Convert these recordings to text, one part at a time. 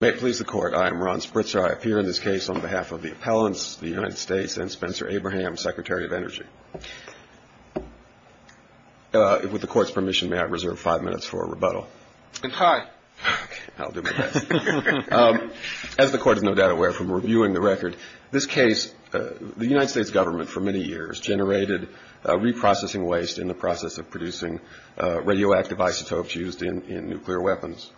May it please the Court, I am Ron Spritzer. I appear in this case on behalf of the appellants, the United States and Spencer Abraham, Secretary of Energy. With the Court's permission, may I reserve five minutes for a rebuttal? It's high. Okay, I'll do my best. As the Court is no doubt aware from reviewing the record, this case, the United States government for many years generated reprocessing waste in the process of producing radioactive isotopes used in nuclear weapons.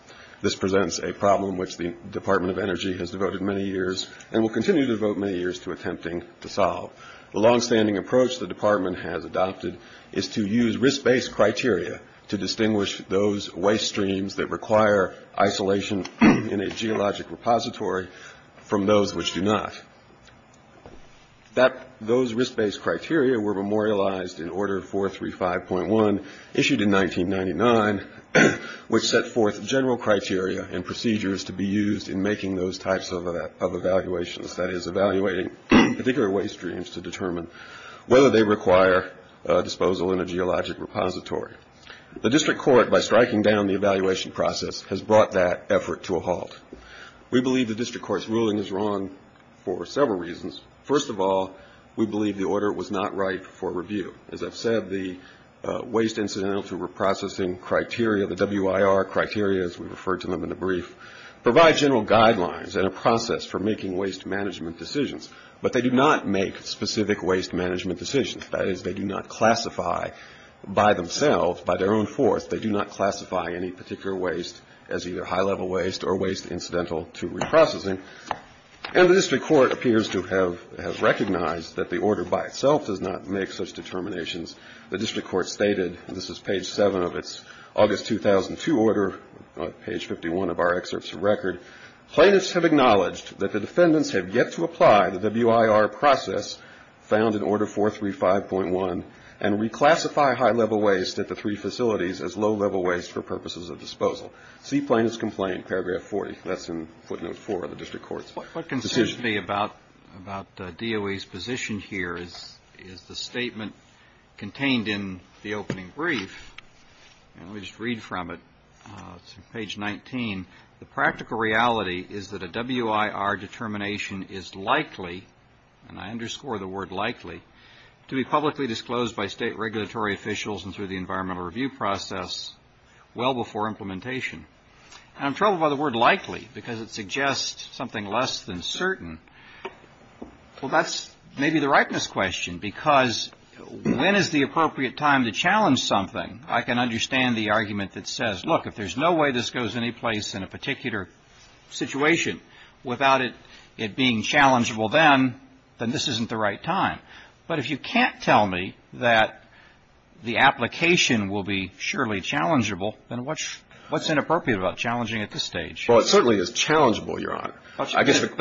This presents a problem which the Department of Energy has devoted many years and will continue to devote many years to attempting to solve. The longstanding approach the Department has adopted is to use risk-based criteria to distinguish those waste streams that require isolation in a geologic repository from those which do not. Those risk-based criteria were memorialized in Order 435.1, issued in 1999, which set forth general criteria and procedures to be used in making those types of evaluations, that is, evaluating particular waste streams to determine whether they require disposal in a geologic repository. The District Court, by striking down the evaluation process, has brought that effort to a halt. We believe the District Court's ruling is wrong for several reasons. First of all, we believe the order was not right for review. As I've said, the Waste Incidental to Reprocessing criteria, the WIR criteria, as we referred to them in the brief, provide general guidelines and a process for making waste management decisions, but they do not make specific waste management decisions. That is, they do not classify by themselves, by their own force, they do not classify any particular waste as either high-level waste or waste incidental to reprocessing. And the District Court appears to have recognized that the order by itself does not make such determinations. The District Court stated, and this is page 7 of its August 2002 order, page 51 of our excerpts of record, plaintiffs have acknowledged that the defendants have yet to apply the WIR process found in Order 435.1 and reclassify high-level waste at the three facilities as low-level waste for purposes of disposal. See Plaintiff's Complaint, paragraph 40, that's in footnote 4 of the District Court's decision. What concerns me about DOE's position here is the statement contained in the opening brief, and let me just read from it, page 19, the practical reality is that a WIR determination is likely, and I underscore the word likely, to be publicly disclosed by state regulatory officials and through the environmental review process well before implementation. And I'm told by the word likely because it suggests something less than certain. Well, that's maybe the rightness question, because when is the appropriate time to challenge something? I can understand the argument that says, look, if there's no way this goes anyplace in a particular situation without it being challengeable then, then this isn't the right time. But if you can't tell me that the application will be surely challengeable, then what's inappropriate about challenging at this stage? Well, it certainly is challengeable, Your Honor. But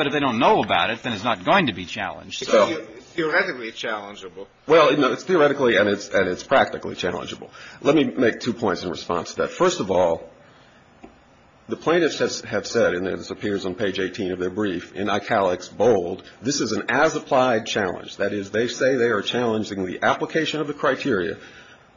if they don't know about it, then it's not going to be challenged. Because it's theoretically challengeable. Well, it's theoretically and it's practically challengeable. Let me make two points in response to that. First of all, the plaintiffs have said, and this appears on page 18 of their brief, in ICALEX, bold, this is an as-applied challenge. That is, they say they are challenging the application of the criteria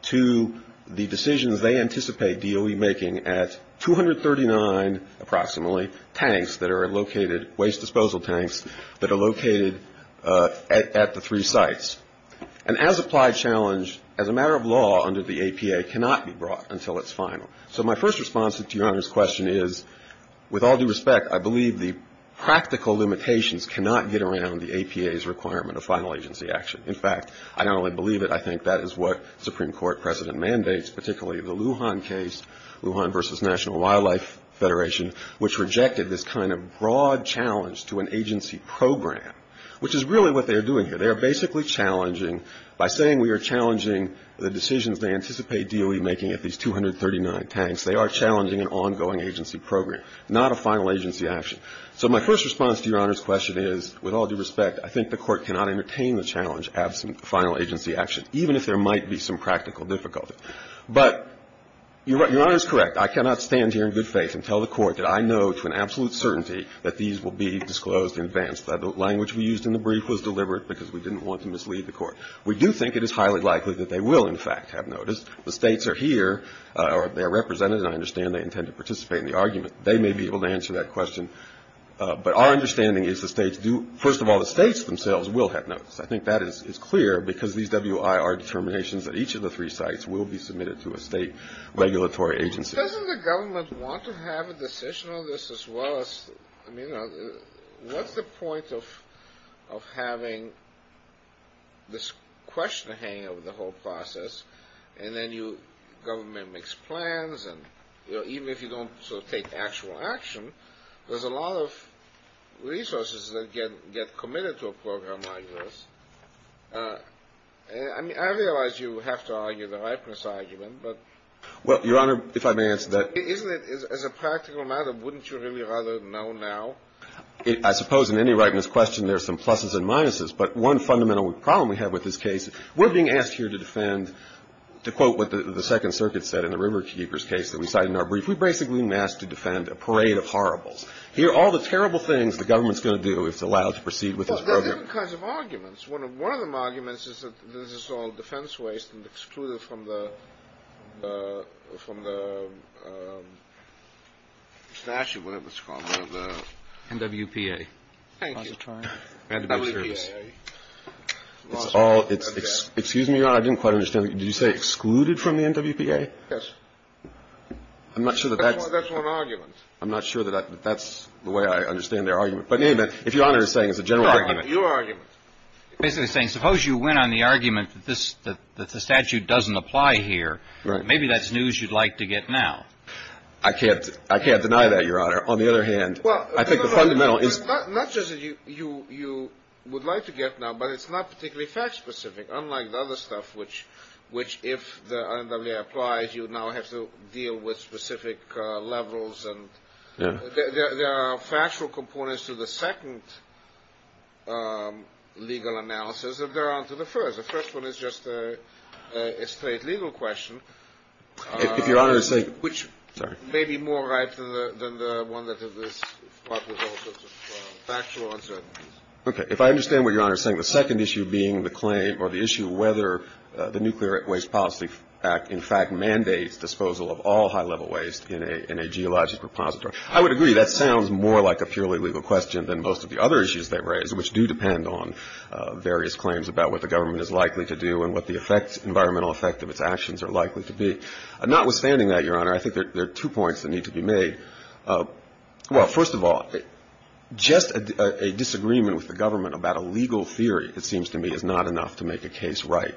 to the decisions they anticipate DOE making at 239, approximately, tanks that are located, waste disposal tanks, that are located at the three sites. An as-applied challenge, as a matter of law under the APA, cannot be brought until it's final. So my first response to Your Honor's question is, with all due respect, I believe the practical limitations cannot get around the APA's requirement of final agency action. In fact, I not only believe it, I think that is what Supreme Court precedent mandates, particularly the Lujan case, Lujan v. National Wildlife Federation, which rejected this kind of broad challenge to an agency program, which is really what they are doing here. They are basically challenging, by saying we are challenging the decisions they anticipate DOE making at these 239 tanks, they are challenging an ongoing agency program, not a final agency action. So my first response to Your Honor's question is, with all due respect, I think the Court cannot entertain the challenge absent final agency action, even if there might be some practical difficulty. But Your Honor is correct. I cannot stand here in good faith and tell the Court that I know to an absolute certainty that these will be disclosed in advance, that the language we used in the brief was deliberate because we didn't want to mislead the Court. We do think it is highly likely that they will, in fact, have notice. The States are here, or they are represented, and I understand they intend to participate in the argument. They may be able to answer that question. But our understanding is the States do, first of all, the States themselves will have notice. I think that is clear because these WI are determinations that each of the three sites will be submitted to a state regulatory agency. Doesn't the government want to have a decision on this as well as, I mean, what's the point of having this question hanging over the whole process, and then you, government makes plans, and, you know, even if you don't sort of take actual action, there's a lot of resources that get committed to a program like this. I mean, I realize you have to argue the ripeness argument, but isn't it, as a practical matter, wouldn't you really rather know now? I suppose in any ripeness question, there's some pluses and minuses, but one fundamental problem we have with this case, we're being asked here to defend, to quote what the Second that we cited in our brief, we're basically being asked to defend a parade of horribles. Here, all the terrible things the government's going to do if it's allowed to proceed with this program. Well, there are different kinds of arguments. One of them arguments is that this is all defense waste and excluded from the statute, whatever it's called, one of the NWPA. Thank you. NWPA. It's all — excuse me, Your Honor, I didn't quite understand. Did you say excluded from the NWPA? Yes. I'm not sure that that's — That's one argument. I'm not sure that that's the way I understand their argument. But in any event, if Your Honor is saying it's a general argument — No, your argument. Basically saying, suppose you win on the argument that this — that the statute doesn't apply here, maybe that's news you'd like to get now. I can't deny that, Your Honor. On the other hand, I think the fundamental is — Well, not just that you would like to get now, but it's not particularly fact-specific, unlike the other stuff, which, if the NWPA applies, you now have to deal with specific levels and — Yeah. There are factual components to the second legal analysis that go on to the first. The first one is just a straight legal question — If Your Honor is saying — Which may be more right than the one that is fraught with all sorts of factual uncertainties. Okay. If I understand what Your Honor is saying, the second issue being the claim — or the issue of whether the Nuclear Waste Policy Act, in fact, mandates disposal of all high-level waste in a geologic repository. I would agree that sounds more like a purely legal question than most of the other issues they raise, which do depend on various claims about what the government is likely to do and what the environmental effect of its actions are likely to be. Notwithstanding that, Your Honor, I think there are two points that need to be made. Well, first of all, just a disagreement with the government about a legal theory, it seems to me, is not enough to make a case right.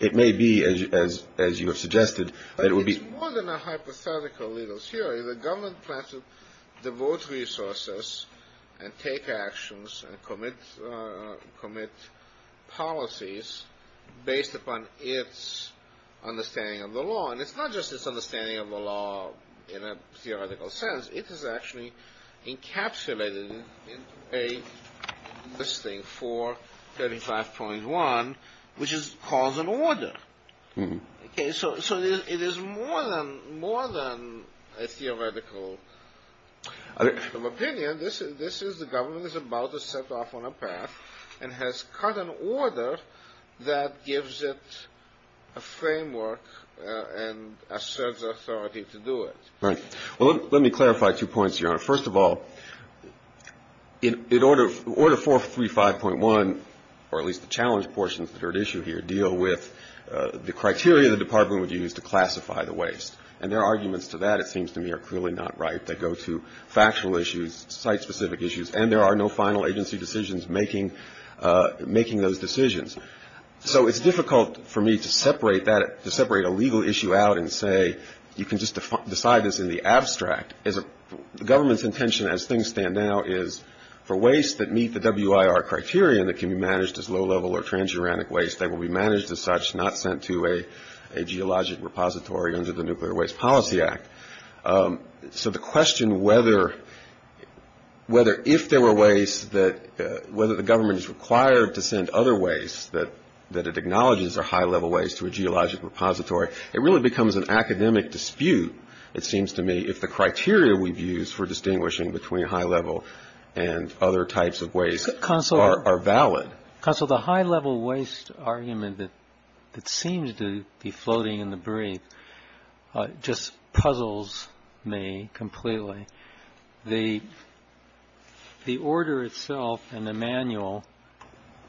It may be, as you have suggested, that it would be — It is more than a hypothetical legal theory. The government plans to devote resources and take actions and commit policies based upon its understanding of the law. And it's not just its understanding of the law in a theoretical sense. It is actually encapsulated in this thing, 435.1, which calls an order. So it is more than a theoretical opinion. This is — the government is about to set off on a path and has cut an order that gives it a framework and asserts authority to do it. Right. Well, let me clarify two points, Your Honor. First of all, in order — order 435.1, or at least the challenge portions that are at issue here, deal with the criteria the Department would use to classify the waste. And their arguments to that, it seems to me, are clearly not right. They go to factional issues, site-specific issues, and there are no final agency decisions making those decisions. So it's difficult for me to separate that — to separate a legal issue out and say, you can just decide this in the abstract. As a — the government's intention, as things stand now, is for waste that meet the WIR criterion that can be managed as low-level or transuranic waste, they will be managed as such, not sent to a geologic repository under the Nuclear Waste Policy Act. So the question whether — whether if there were waste that — whether the government is required to send other waste that — that it acknowledges are high-level waste to a geologic repository, it really becomes an academic dispute, it seems to me, if the criteria we've used for distinguishing between high-level and other types of waste are — are valid. Counsel, the high-level waste argument that — that seems to be floating in the breeze just puzzles me completely. The — the order itself and the manual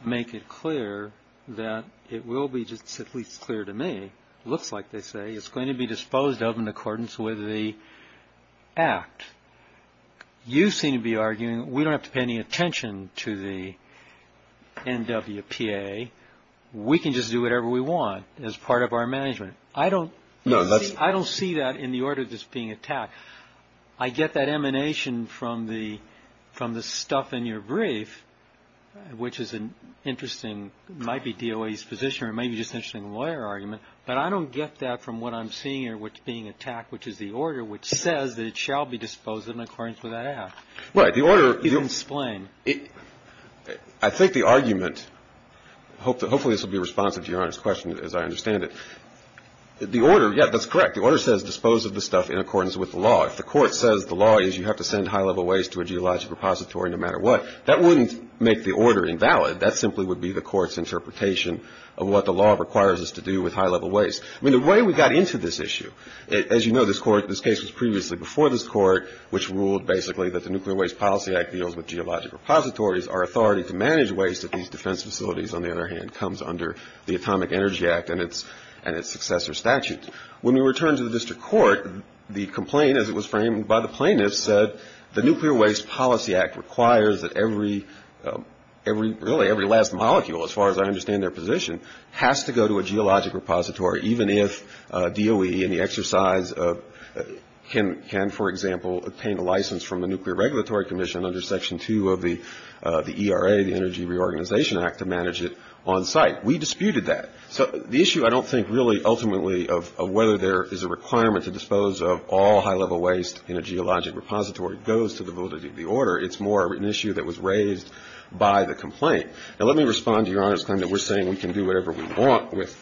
make it clear that it will be just at least clear to me, it looks like they say, it's going to be disposed of in accordance with the Act. You seem to be arguing we don't have to pay any attention to the NWPA, we can just do whatever we want as part of our management. I don't — No, that's — I don't see that in the order that's being attacked. I get that emanation from the — from the stuff in your brief, which is an interesting, might be DOA's position or maybe just an interesting lawyer argument, but I don't get that from what I'm seeing here, what's being attacked, which is the order, which says that it shall be disposed of in accordance with that Act. Well, the order — You can explain. I think the argument — hopefully this will be responsive to Your Honor's question as I understand it. The order — yeah, that's correct. The order says dispose of the stuff in accordance with the law. If the court says the law is you have to send high-level waste to a geologic repository no matter what, that wouldn't make the order invalid. That simply would be the court's interpretation of what the law requires us to do with high-level waste. I mean, the way we got into this issue — as you know, this court — this case was previously before this court, which ruled basically that the Nuclear Waste Policy Act deals with geologic repositories. Our authority to manage waste at these defense facilities, on the other hand, comes under the Atomic Energy Act and its successor statute. When we returned to the district court, the complaint, as it was framed by the plaintiffs, said the Nuclear Waste Policy Act requires that every — really, every last molecule, as far as I understand their position, has to go to a geologic repository even if DOE and the exercise of — can, for example, obtain a license from the Nuclear Regulatory Commission under Section 2 of the ERA, the Energy Reorganization Act, to manage it on site. We disputed that. So the issue, I don't think, really, ultimately, of whether there is a requirement to dispose of all high-level waste in a geologic repository goes to the validity of the order. It's more an issue that was raised by the complaint. And let me respond to Your Honor's claim that we're saying we can do whatever we want with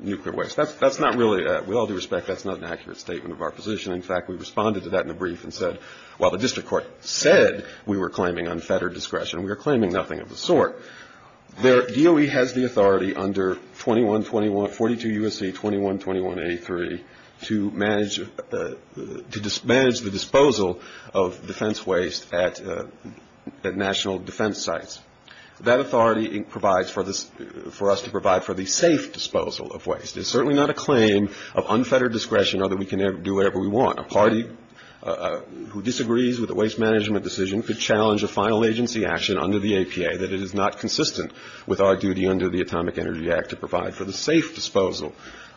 nuclear waste. That's not really — with all due respect, that's not an accurate statement of our position. In fact, we responded to that in a brief and said, while the district court said we were claiming unfettered discretion, we were claiming nothing of the sort. Their — DOE has the authority under 2121 — 42 U.S.C. 2121-83 to manage the disposal of defense waste at national defense sites. That authority provides for us to provide for the safe disposal of waste. It's certainly not a claim of unfettered discretion or that we can do whatever we want. A party who disagrees with a waste management decision could challenge a final agency action under the APA that it is not consistent with our duty under the Atomic Energy Act to provide for the safe disposal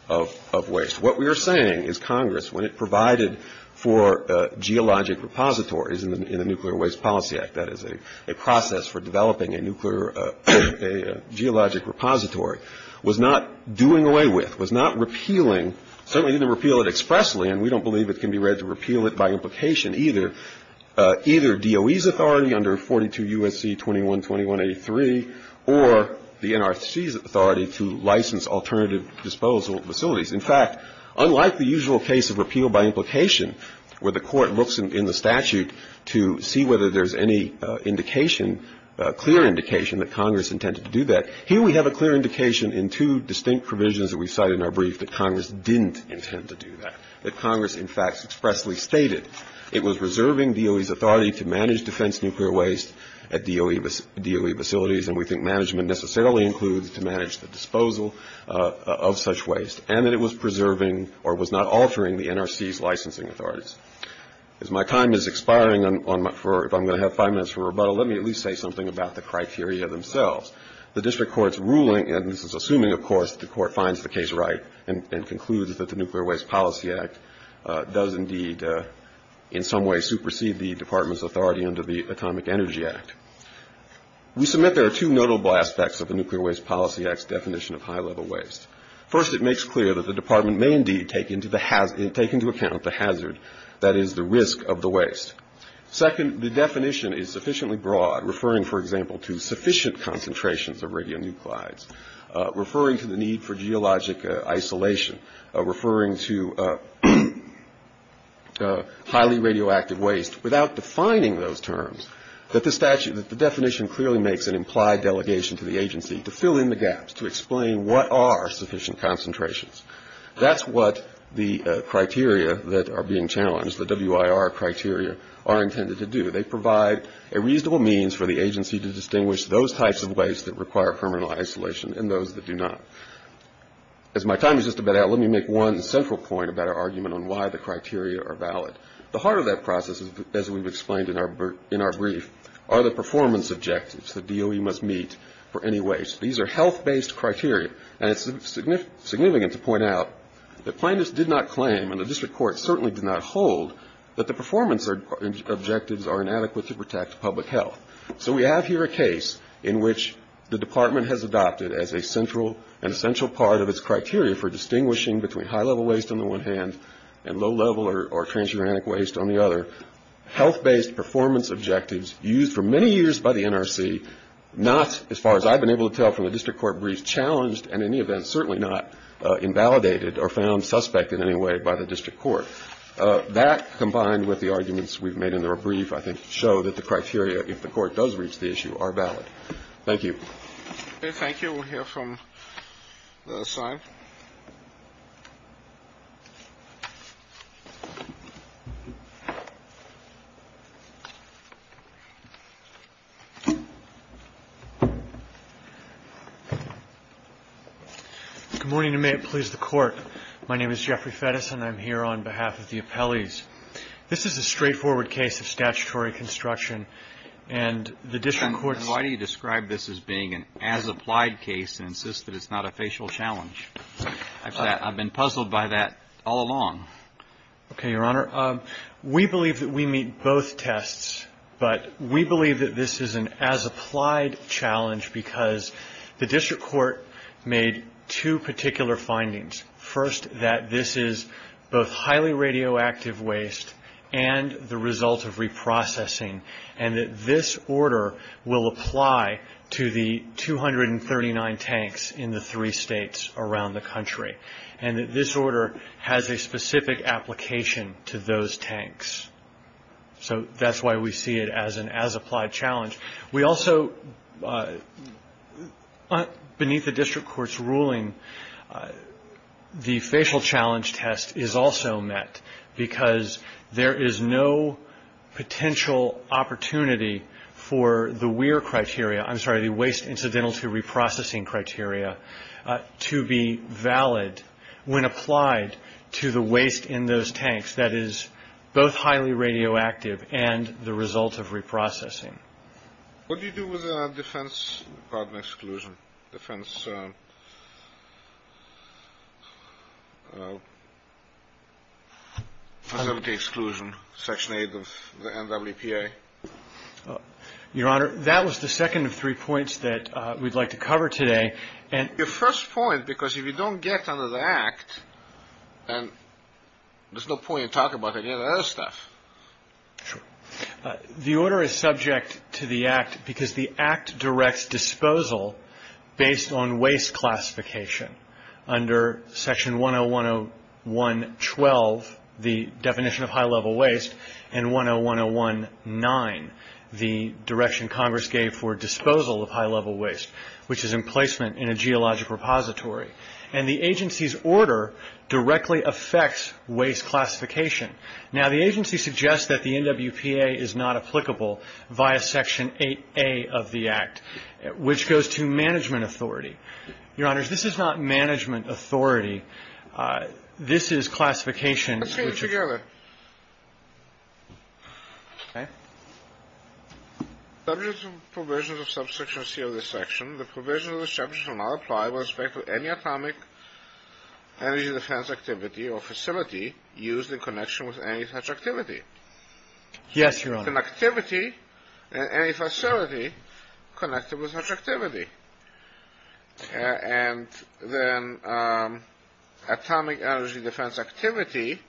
of waste. What we are saying is Congress, when it provided for geologic repositories in the Nuclear Waste Policy Act — that is, a process for developing a geologic repository — was not doing away with, was not repealing — certainly didn't repeal it expressly, and we don't believe it can be read to repeal it by implication either — either DOE's authority under 42 U.S.C. 2121-83 or the NRC's authority to license alternative disposal facilities. In fact, unlike the usual case of repeal by implication, where the Court looks in the statute to see whether there's any indication, clear indication that Congress intended to do that, here we have a clear indication in two distinct provisions that we cite in our brief that Congress didn't intend to do that, that Congress, in fact, expressly stated it was reserving DOE's authority to manage defense nuclear waste at DOE facilities, and we think management necessarily includes to manage the disposal of such waste, and that it was preserving or was not altering the NRC's licensing authorities. As my time is expiring, if I'm going to have five minutes for rebuttal, let me at least say something about the criteria themselves. The District Court's ruling — and this is assuming, of course, that the Court finds the case right and concludes that the Nuclear Waste Policy Act does indeed in some way supersede the Department's authority under the Atomic Energy Act — we submit there are two notable aspects of the Nuclear Waste Policy Act's definition of high-level waste. First, it makes clear that the Department may indeed take into account the hazard, that is, the risk of the waste. Second, the definition is sufficiently broad, referring, for example, to sufficient concentrations of radionuclides, referring to the need for geologic isolation, referring to highly radioactive waste, without defining those terms, that the definition clearly makes an implied delegation to the agency to fill in the gaps, to explain what are sufficient concentrations. That's what the criteria that are being challenged, the WIR criteria, are intended to do. They provide a reasonable means for the agency to distinguish those types of waste that require criminal isolation and those that do not. As my time is just about out, let me make one central point about our argument on why the criteria are valid. The heart of that process, as we've explained in our brief, are the performance objectives, the DOE must meet for any waste. These are health-based criteria, and it's significant to point out that plaintiffs did not claim, and the District Court certainly did not hold, that the performance objectives are inadequate to protect public health. So we have here a case in which the Department has adopted as a central and essential part of its criteria for distinguishing between high-level waste on the one hand and low-level or transuranic waste on the other, health-based performance objectives used for many years by the NRC, not, as far as I've been able to tell from the District Court brief, challenged and in any event certainly not invalidated or found suspect in any way by the District Court. That, combined with the arguments we've made in our brief, I think, show that the criteria, if the Court does reach the issue, are valid. Thank you. Thank you. We'll hear from the sign. Good morning, and may it please the Court. My name is Jeffrey Fettis. And I'm here on behalf of the appellees. This is a straightforward case of statutory construction. And the District Court's... And why do you describe this as being an as-applied case and insist that it's not a facial challenge? I've been puzzled by that all along. Okay, Your Honor. We believe that we meet both tests. But we believe that this is an as-applied challenge because the District Court made two particular findings. First, that this is both highly radioactive waste and the result of reprocessing. And that this order will apply to the 239 tanks in the three states around the country. And that this order has a specific application to those tanks. So that's why we see it as an as-applied challenge. We also... Beneath the District Court's ruling, the facial challenge test is also met because there is no potential opportunity for the WEIR criteria, I'm sorry, the Waste Incidental to Reprocessing criteria, to be valid when applied to the waste in those tanks that is both highly radioactive and the result of reprocessing. What do you do with the Defense Department Exclusion, Defense Facility Exclusion, Section 8 of the NWPA? Your Honor, that was the second of three points that we'd like to cover today. Your first point, because if you don't get under the Act, and there's no point in talking about any of that other stuff. The order is subject to the Act because the Act directs disposal based on waste classification under Section 101.1.12, the definition of high-level waste, and 101.1.9, the direction Congress gave for disposal of high-level waste, which is emplacement in a geologic repository. And the agency's order directly affects waste classification. Now the agency suggests that the NWPA is not applicable via Section 8A of the Act, which goes to management authority. Your Honor, this is not management authority. This is classification. Let's put it together. Okay. Subject to the provisions of Subsection C of this section, the provisions of this subject will not apply with respect to any atomic energy defense activity or facility used in connection with any such activity. Yes Your Honor. Connectivity in any facility connected with such activity. And then atomic energy defense activity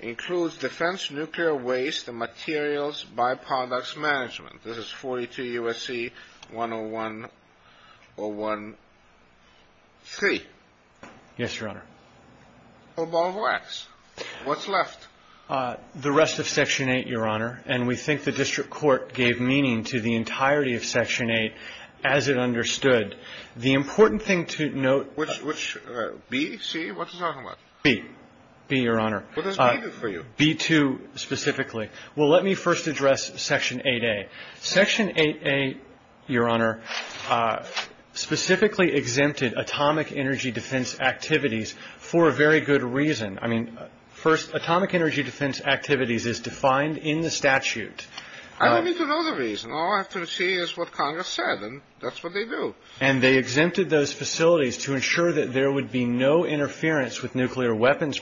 includes defense nuclear waste and materials by-products management. This is 42 U.S.C. 101.1.3. Yes, Your Honor. What's left? The rest of Section 8, Your Honor. And we think the district court gave meaning to the entirety of Section 8 as it understood. The important thing to note. Which? B? C? What are you talking about? B. B, Your Honor. What is needed for you? B2 specifically. Well, let me first address Section 8A. Section 8A, Your Honor, specifically exempted atomic energy defense activities for a very good reason. I mean, first, atomic energy defense activities is defined in the statute. I don't need to know the reason. All I have to see is what Congress said, and that's what they do. And they exempted those facilities to ensure that there would be no interference with nuclear weapons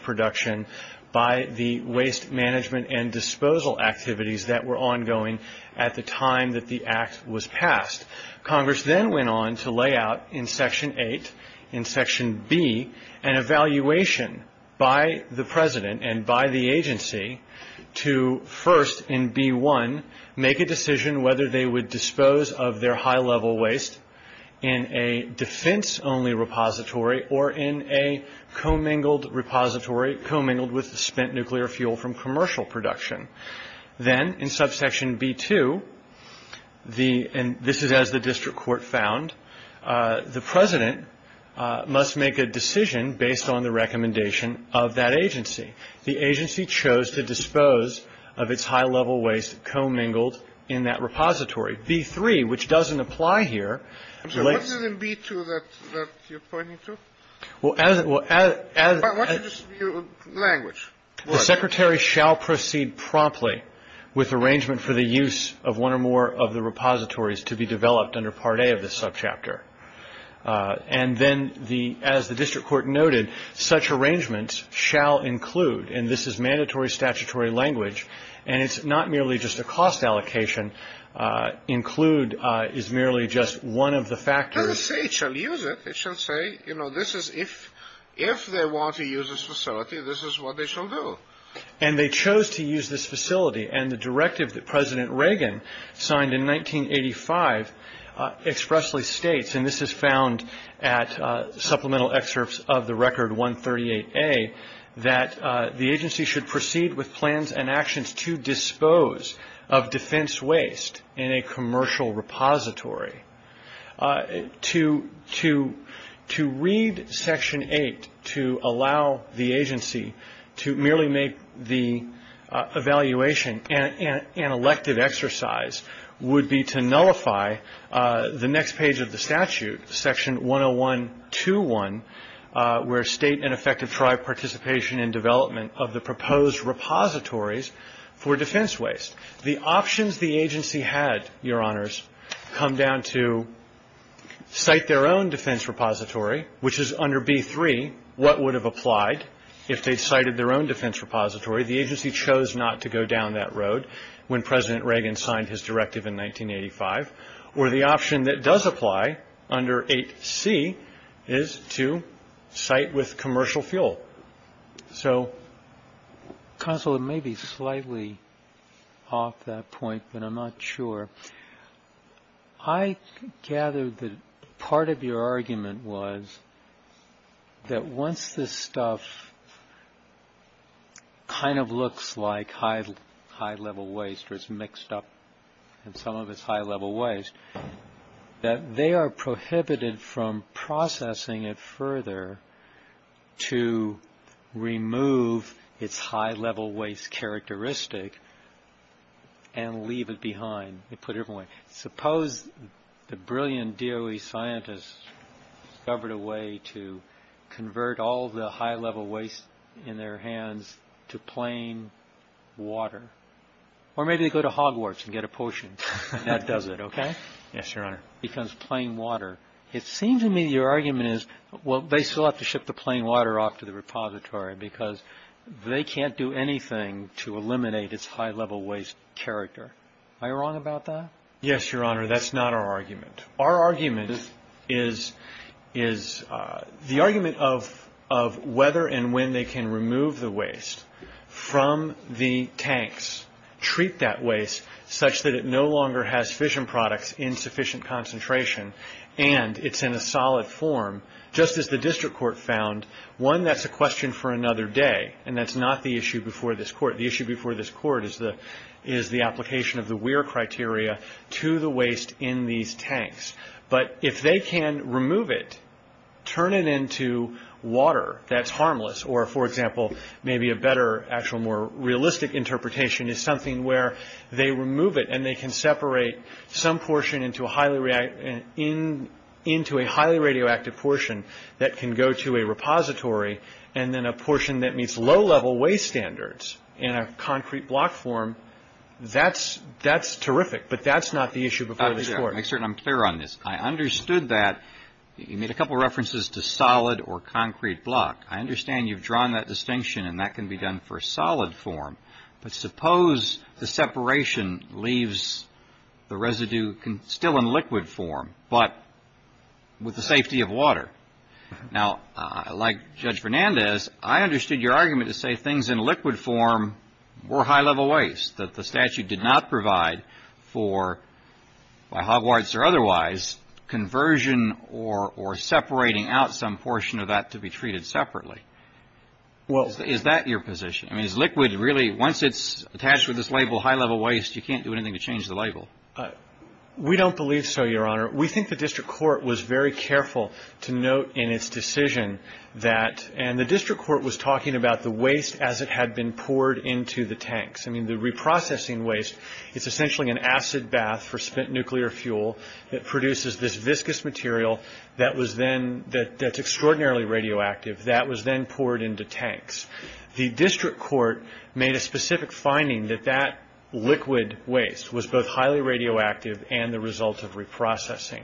by the waste management and disposal activities that were ongoing at the time that the act was passed. Congress then went on to lay out in Section 8, in Section B, an evaluation by the President and by the agency to first in B1 make a decision whether they would dispose of their high-level waste in a defense-only repository or in a commingled repository, commingled with spent nuclear fuel from commercial production. Then in Subsection B2, and this is as the district court found, the President must make a decision based on the recommendation of that agency. The agency chose to dispose of its high-level waste commingled in that repository. B3, which doesn't apply here, relates to the... What's in B2 that you're pointing to? Well, as... Why don't you just use language? The Secretary shall proceed promptly with arrangement for the use of one or more of the repositories to be developed under Part A of this subchapter. And then, as the district court noted, such arrangements shall include, and this is mandatory statutory language, and it's not merely just a cost allocation. Include is merely just one of the factors. It doesn't say it shall use it. It shall say, you know, this is if they want to use this facility, this is what they shall do. And they chose to use this facility, and the directive that President Reagan signed in 1985 expressly states, and this is found at supplemental excerpts of the Record 138A, that the agency should proceed with plans and actions to dispose of defense waste in a commercial repository. To read Section 8 to allow the agency to merely make the evaluation, an elective exercise would be to nullify the next page of the statute, Section 10121, where state and effective tribe participation in development of the proposed repositories for defense waste. The options the agency had, Your Honors, come down to cite their own defense repository, which is under B3, what would have applied if they'd cited their own defense repository. The agency chose not to go down that road when President Reagan signed his directive in 1985. Or the option that does apply under 8C is to cite with commercial fuel. So, Counsel, it may be slightly off that point, but I'm not sure. I gather that part of your argument was that once this stuff kind of looks like high-level waste, or it's mixed up in some of its high-level waste, that they are prohibited from processing it further to remove its high-level waste characteristic and leave it behind. Suppose the brilliant DOE scientists discovered a way to convert all the high-level waste in their hands to plain water. Or maybe they go to Hogwarts and get a potion. That does it, okay? Yes, Your Honor. Because plain water. It seems to me your argument is, well, they still have to ship the plain water off to the repository because they can't do anything to eliminate its high-level waste character. Are you wrong about that? Yes, Your Honor. That's not our argument. Our argument is the argument of whether and when they can remove the waste from the tanks, treat that waste such that it no longer has fission products in sufficient concentration, and it's in a solid form, just as the district court found. One, that's a question for another day, and that's not the issue before this court. That is the application of the Weir criteria to the waste in these tanks. But if they can remove it, turn it into water, that's harmless. Or, for example, maybe a better, actual more realistic interpretation is something where they remove it and they can separate some portion into a highly radioactive portion that can go to a repository and then a portion that meets low-level waste standards in a concrete block form. That's terrific, but that's not the issue before this court. I'm clear on this. I understood that. You made a couple of references to solid or concrete block. I understand you've drawn that distinction, and that can be done for solid form. But suppose the separation leaves the residue still in liquid form but with the safety of water. Now, like Judge Fernandez, I understood your argument to say things in liquid form were high-level waste, that the statute did not provide for, by Hogwarts or otherwise, conversion or separating out some portion of that to be treated separately. Is that your position? I mean, is liquid really, once it's attached with this label high-level waste, you can't do anything to change the label? We don't believe so, Your Honor. We think the district court was very careful to note in its decision that – and the district court was talking about the waste as it had been poured into the tanks. I mean, the reprocessing waste is essentially an acid bath for spent nuclear fuel that produces this viscous material that's extraordinarily radioactive that was then poured into tanks. The district court made a specific finding that that liquid waste was both highly radioactive and the result of reprocessing.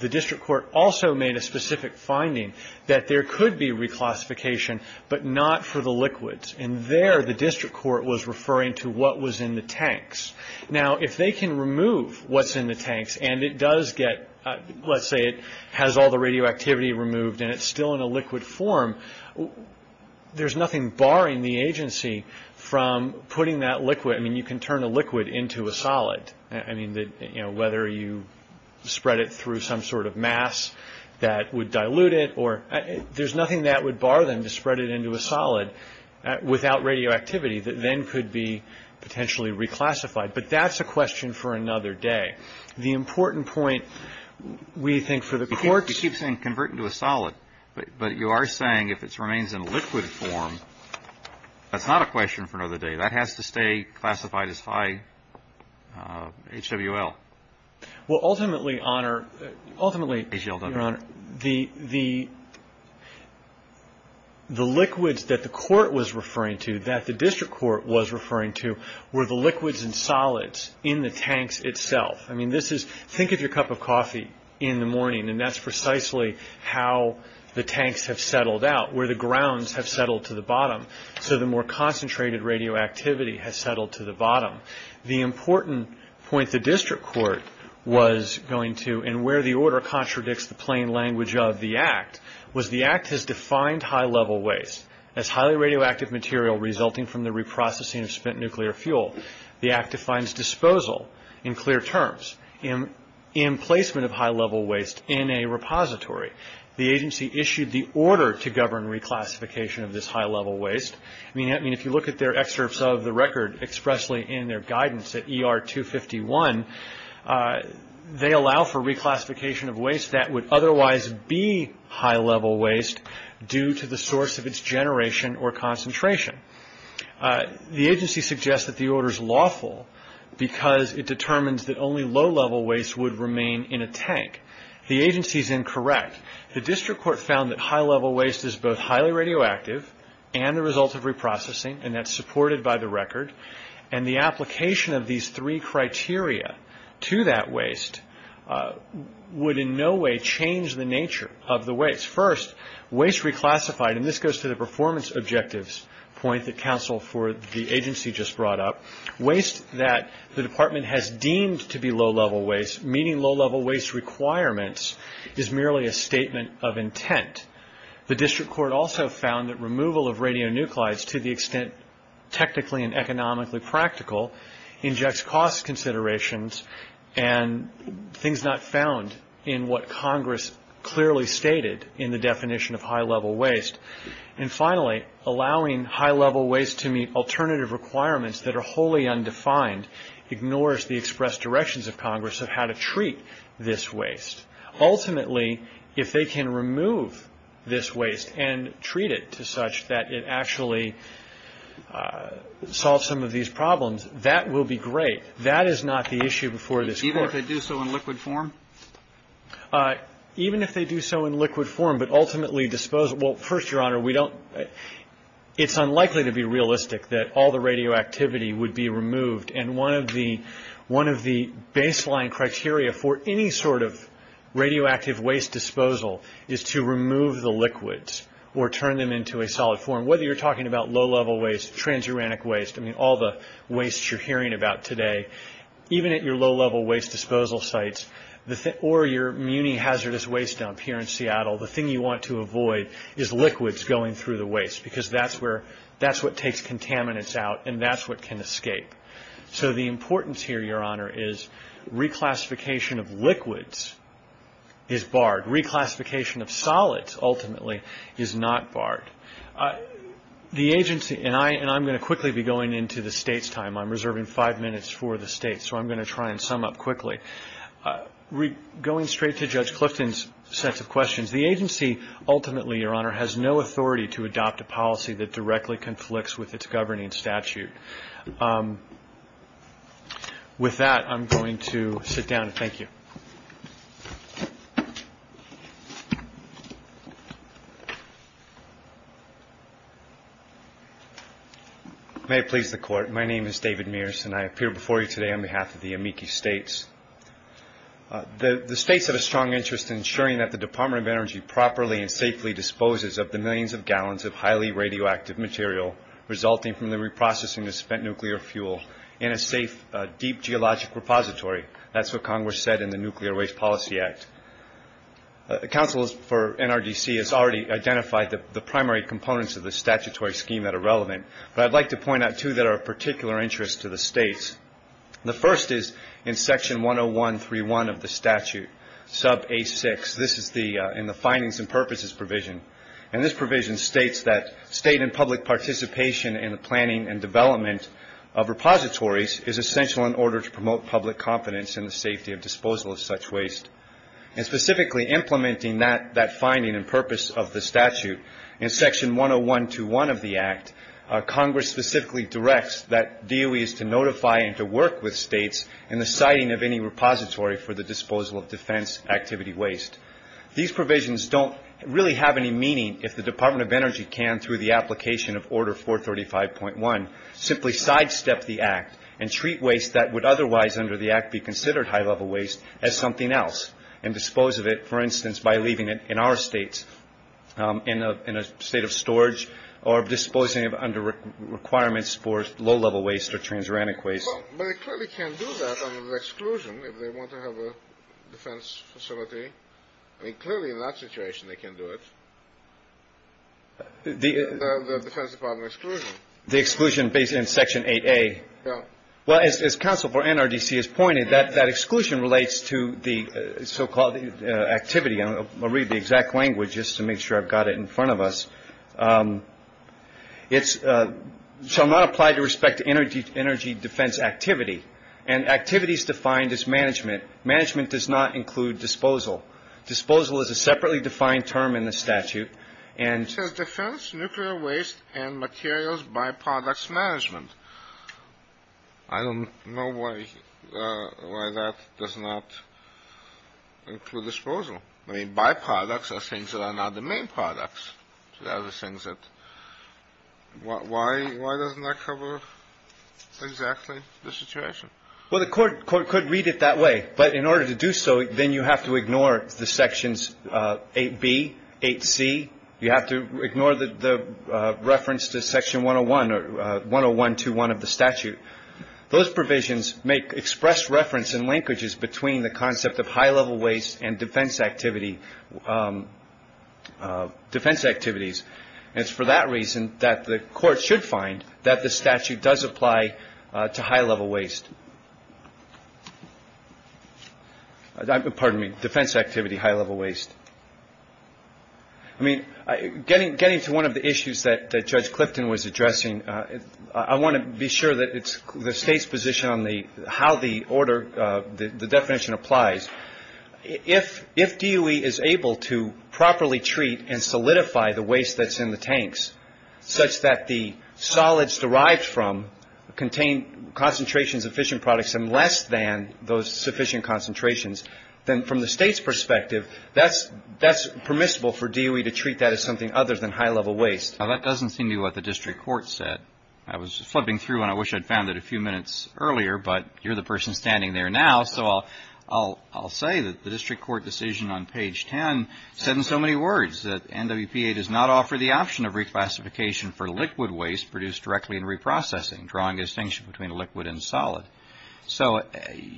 The district court also made a specific finding that there could be reclassification but not for the liquids. And there, the district court was referring to what was in the tanks. Now, if they can remove what's in the tanks, and it does get – let's say it has all the radioactivity removed and it's still in a liquid form, there's nothing barring the agency from putting that liquid – I mean, you can turn a liquid into a solid. I mean, whether you spread it through some sort of mass that would dilute it or – there's nothing that would bar them to spread it into a solid without radioactivity that then could be potentially reclassified. But that's a question for another day. The important point, we think, for the courts – but you are saying if it remains in liquid form, that's not a question for another day. That has to stay classified as high HWL. Well, ultimately, Your Honor, the liquids that the court was referring to, that the district court was referring to, were the liquids and solids in the tanks itself. I mean, this is – think of your cup of coffee in the morning, and that's precisely how the tanks have settled out, where the grounds have settled to the bottom. So the more concentrated radioactivity has settled to the bottom. The important point the district court was going to, and where the order contradicts the plain language of the Act, was the Act has defined high-level waste as highly radioactive material resulting from the reprocessing of spent nuclear fuel. The Act defines disposal in clear terms and placement of high-level waste in a repository. The agency issued the order to govern reclassification of this high-level waste. I mean, if you look at their excerpts of the record expressly in their guidance at ER 251, they allow for reclassification of waste that would otherwise be high-level waste due to the source of its generation or concentration. The agency suggests that the order is lawful because it determines that only low-level waste would remain in a tank. The agency is incorrect. The district court found that high-level waste is both highly radioactive and a result of reprocessing, and that's supported by the record. And the application of these three criteria to that waste would in no way change the nature of the waste. First, waste reclassified, and this goes to the performance objectives point that counsel for the agency just brought up, waste that the department has deemed to be low-level waste, meaning low-level waste requirements, is merely a statement of intent. The district court also found that removal of radionuclides, to the extent technically and economically practical, injects cost considerations and things not found in what Congress clearly stated in the definition of high-level waste. And finally, allowing high-level waste to meet alternative requirements that are wholly undefined ignores the expressed directions of Congress of how to treat this waste. Ultimately, if they can remove this waste and treat it to such that it actually solves some of these problems, that will be great. That is not the issue before this court. Even if they do so in liquid form? Even if they do so in liquid form, but ultimately disposal – well, first, Your Honor, we don't – it's unlikely to be realistic that all the radioactivity would be removed. And one of the baseline criteria for any sort of radioactive waste disposal is to remove the liquids or turn them into a solid form, whether you're talking about low-level waste, transuranic waste, I mean, all the waste you're hearing about today. Even at your low-level waste disposal sites or your muni-hazardous waste dump here in Seattle, the thing you want to avoid is liquids going through the waste because that's where – that's what takes contaminants out and that's what can escape. So the importance here, Your Honor, is reclassification of liquids is barred. Reclassification of solids, ultimately, is not barred. The agency – and I'm going to quickly be going into the State's time. I'm reserving five minutes for the State, so I'm going to try and sum up quickly. Going straight to Judge Clifton's set of questions, the agency ultimately, Your Honor, has no authority to adopt a policy that directly conflicts with its governing statute. With that, I'm going to sit down. Thank you. May it please the Court. My name is David Mears and I appear before you today on behalf of the Amici States. The States have a strong interest in ensuring that the Department of Energy properly and safely disposes of the millions of gallons of highly radioactive material resulting from the reprocessing of spent nuclear fuel in a safe, deep geologic repository. That's what Congress said in the Nuclear Waste Policy Act. Counsel for NRDC has already identified the primary components of the statutory scheme that are relevant, but I'd like to point out two that are of particular interest to the States. The first is in Section 101.3.1 of the statute, sub-A6. This is in the findings and purposes provision, and this provision states that state and public participation in the planning and development of repositories is essential in order to promote public confidence in the safety of disposal of such waste. And specifically implementing that finding and purpose of the statute, in Section 101.2.1 of the Act, Congress specifically directs that DOE is to notify and to work with States in the siting of any repository for the disposal of defense activity waste. These provisions don't really have any meaning if the Department of Energy can, through the application of Order 435.1, simply sidestep the Act and treat waste that would otherwise, under the Act, be considered high-level waste as something else and dispose of it, for instance, by leaving it in our States in a state of storage or disposing of it under requirements for low-level waste or transuranic waste. But it clearly can't do that under the exclusion if they want to have a defense facility. I mean, clearly in that situation they can do it. The Defense Department exclusion. The exclusion based in Section 8A. Well, as counsel for NRDC has pointed, that exclusion relates to the so-called activity. I'll read the exact language just to make sure I've got it in front of us. It shall not apply to respect to energy defense activity, and activities defined as management. Management does not include disposal. Disposal is a separately defined term in the statute. It says defense, nuclear waste, and materials byproducts management. I don't know why that does not include disposal. I mean, byproducts are things that are not the main products. Why doesn't that cover exactly the situation? Well, the court could read it that way. But in order to do so, then you have to ignore the Sections 8B, 8C. You have to ignore the reference to Section 101 or 10121 of the statute. Those provisions express reference and linkages between the concept of high-level waste and defense activities. And it's for that reason that the court should find that the statute does apply to high-level waste. Pardon me, defense activity, high-level waste. I mean, getting to one of the issues that Judge Clifton was addressing, I want to be sure that it's the State's position on how the definition applies. If DOE is able to properly treat and solidify the waste that's in the tanks, such that the solids derived from contain concentrations of fission products and less than those sufficient concentrations, then from the State's perspective, that's permissible for DOE to treat that as something other than high-level waste. Now, that doesn't seem to be what the district court said. I was flipping through, and I wish I'd found it a few minutes earlier, but you're the person standing there now, so I'll say that the district court decision on page 10 said in so many words that NWPA does not offer the option of reclassification for liquid waste produced directly in reprocessing, drawing a distinction between liquid and solid. So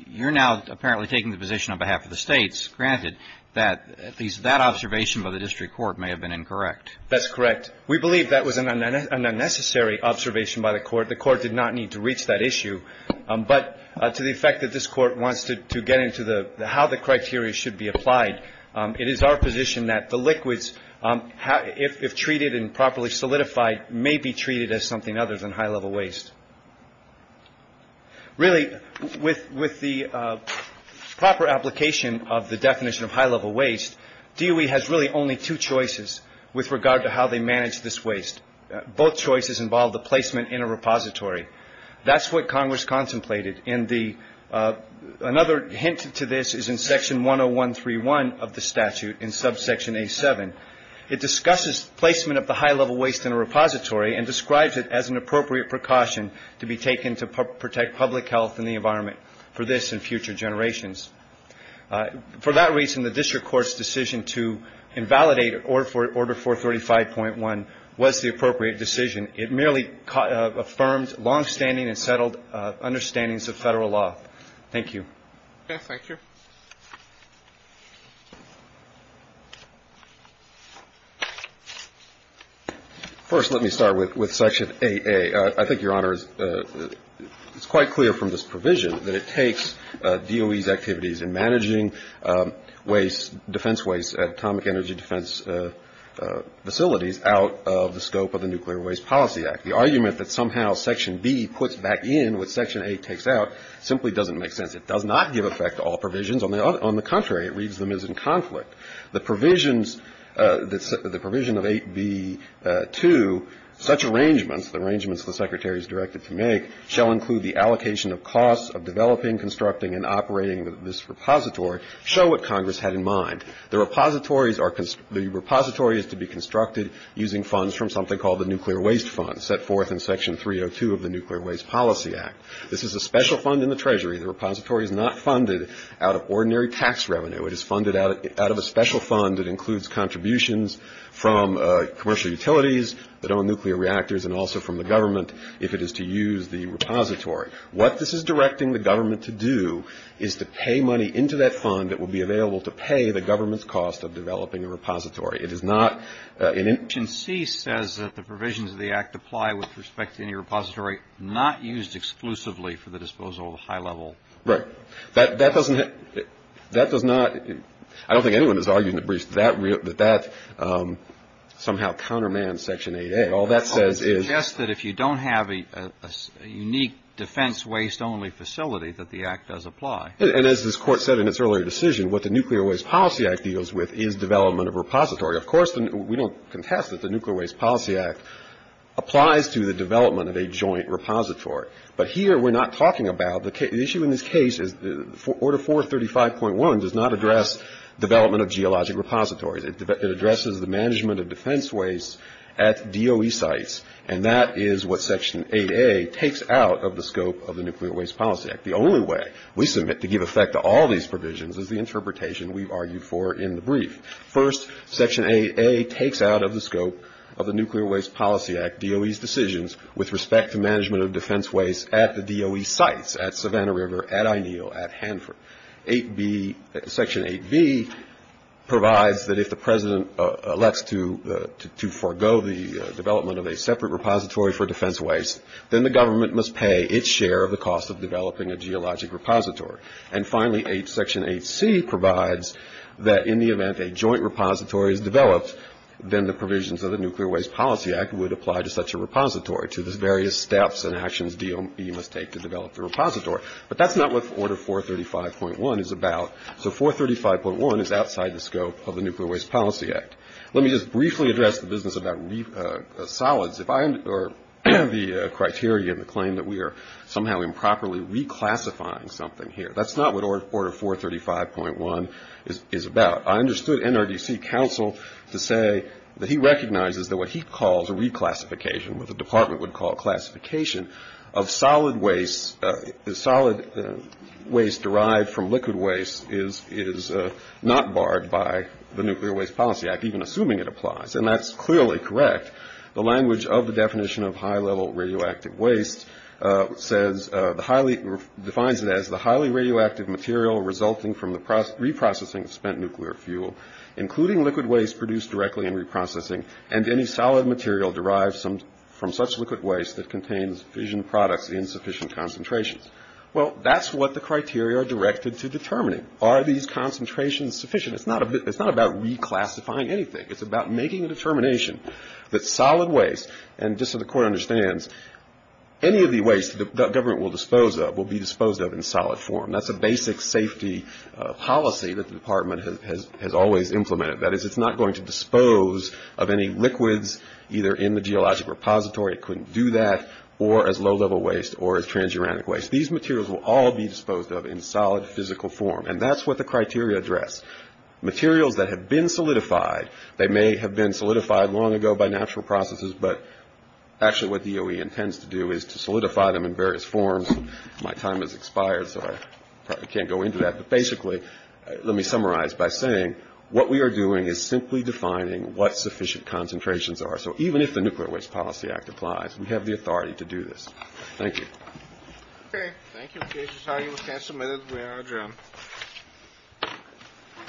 you're now apparently taking the position on behalf of the States, granted that at least that observation by the district court may have been incorrect. That's correct. We believe that was an unnecessary observation by the court. The court did not need to reach that issue. But to the effect that this court wants to get into how the criteria should be applied, it is our position that the liquids, if treated and properly solidified, may be treated as something other than high-level waste. Really, with the proper application of the definition of high-level waste, DOE has really only two choices with regard to how they manage this waste. Both choices involve the placement in a repository. That's what Congress contemplated. And another hint to this is in Section 10131 of the statute in subsection A7. It discusses placement of the high-level waste in a repository and describes it as an appropriate precaution to be taken to protect public health and the environment for this and future generations. For that reason, the district court's decision to invalidate Order 435.1 was the appropriate decision. It merely affirms longstanding and settled understandings of Federal law. Thank you. Okay. Thank you. First, let me start with Section 8A. I think, Your Honor, it's quite clear from this provision that it takes DOE's activities in managing waste, defense waste, atomic energy defense facilities, out of the scope of the Nuclear Waste Policy Act. The argument that somehow Section B puts back in what Section A takes out simply doesn't make sense. It does not give effect to all provisions. On the contrary, it reads them as in conflict. The provisions, the provision of 8B.2, such arrangements, the arrangements the Secretary is directed to make, shall include the allocation of costs of developing, constructing, and operating this repository, show what Congress had in mind. The repository is to be constructed using funds from something called the Nuclear Waste Fund, set forth in Section 302 of the Nuclear Waste Policy Act. This is a special fund in the Treasury. The repository is not funded out of ordinary tax revenue. It is funded out of a special fund that includes contributions from commercial utilities that own nuclear reactors and also from the government if it is to use the repository. What this is directing the government to do is to pay money into that fund that will be available to pay the government's cost of developing a repository. It is not in any – Section C says that the provisions of the Act apply with respect to any repository not used exclusively for the disposal of high-level – Right. That doesn't – that does not – I don't think anyone is arguing that that somehow countermands Section 8A. All that says is – I would suggest that if you don't have a unique defense-waste-only facility, that the Act does apply. And as this Court said in its earlier decision, what the Nuclear Waste Policy Act deals with is development of repository. Of course, we don't contest that the Nuclear Waste Policy Act applies to the development of a joint repository. But here we're not talking about – the issue in this case is Order 435.1 does not address development of geologic repositories. It addresses the management of defense waste at DOE sites, and that is what Section 8A takes out of the scope of the Nuclear Waste Policy Act. The only way we submit to give effect to all these provisions is the interpretation we've argued for in the brief. First, Section 8A takes out of the scope of the Nuclear Waste Policy Act DOE's decisions with respect to management of defense waste at the DOE sites, at Savannah River, at Ineal, at Hanford. Section 8B provides that if the President elects to forego the development of a separate repository for defense waste, then the government must pay its share of the cost of developing a geologic repository. And finally, Section 8C provides that in the event a joint repository is developed, then the provisions of the Nuclear Waste Policy Act would apply to such a repository, to the various steps and actions DOE must take to develop the repository. But that's not what Order 435.1 is about. So 435.1 is outside the scope of the Nuclear Waste Policy Act. Let me just briefly address the business about solids or the criteria and the claim that we are somehow improperly reclassifying something here. That's not what Order 435.1 is about. I understood NRDC counsel to say that he recognizes that what he calls a reclassification, what the department would call classification, of solid waste, solid waste derived from liquid waste is not barred by the Nuclear Waste Policy Act, even assuming it applies. And that's clearly correct. The language of the definition of high-level radioactive waste defines it as the highly radioactive material resulting from the reprocessing of spent nuclear fuel, including liquid waste produced directly in reprocessing, and any solid material derived from such liquid waste that contains sufficient products in sufficient concentrations. Well, that's what the criteria are directed to determining. Are these concentrations sufficient? It's not about reclassifying anything. It's about making a determination that solid waste, and just so the Court understands, any of the waste the government will dispose of will be disposed of in solid form. That's a basic safety policy that the department has always implemented. That is, it's not going to dispose of any liquids either in the geologic repository, it couldn't do that, or as low-level waste or as transuranic waste. These materials will all be disposed of in solid physical form, and that's what the criteria address. Materials that have been solidified, they may have been solidified long ago by natural processes, but actually what DOE intends to do is to solidify them in various forms. My time has expired, so I probably can't go into that. But basically, let me summarize by saying what we are doing is simply defining what sufficient concentrations are. So even if the Nuclear Waste Policy Act applies, we have the authority to do this. Thank you. Okay. Thank you. In case you're talking, we can't submit it. We are adjourned. All rise. This Court for this session stands adjourned.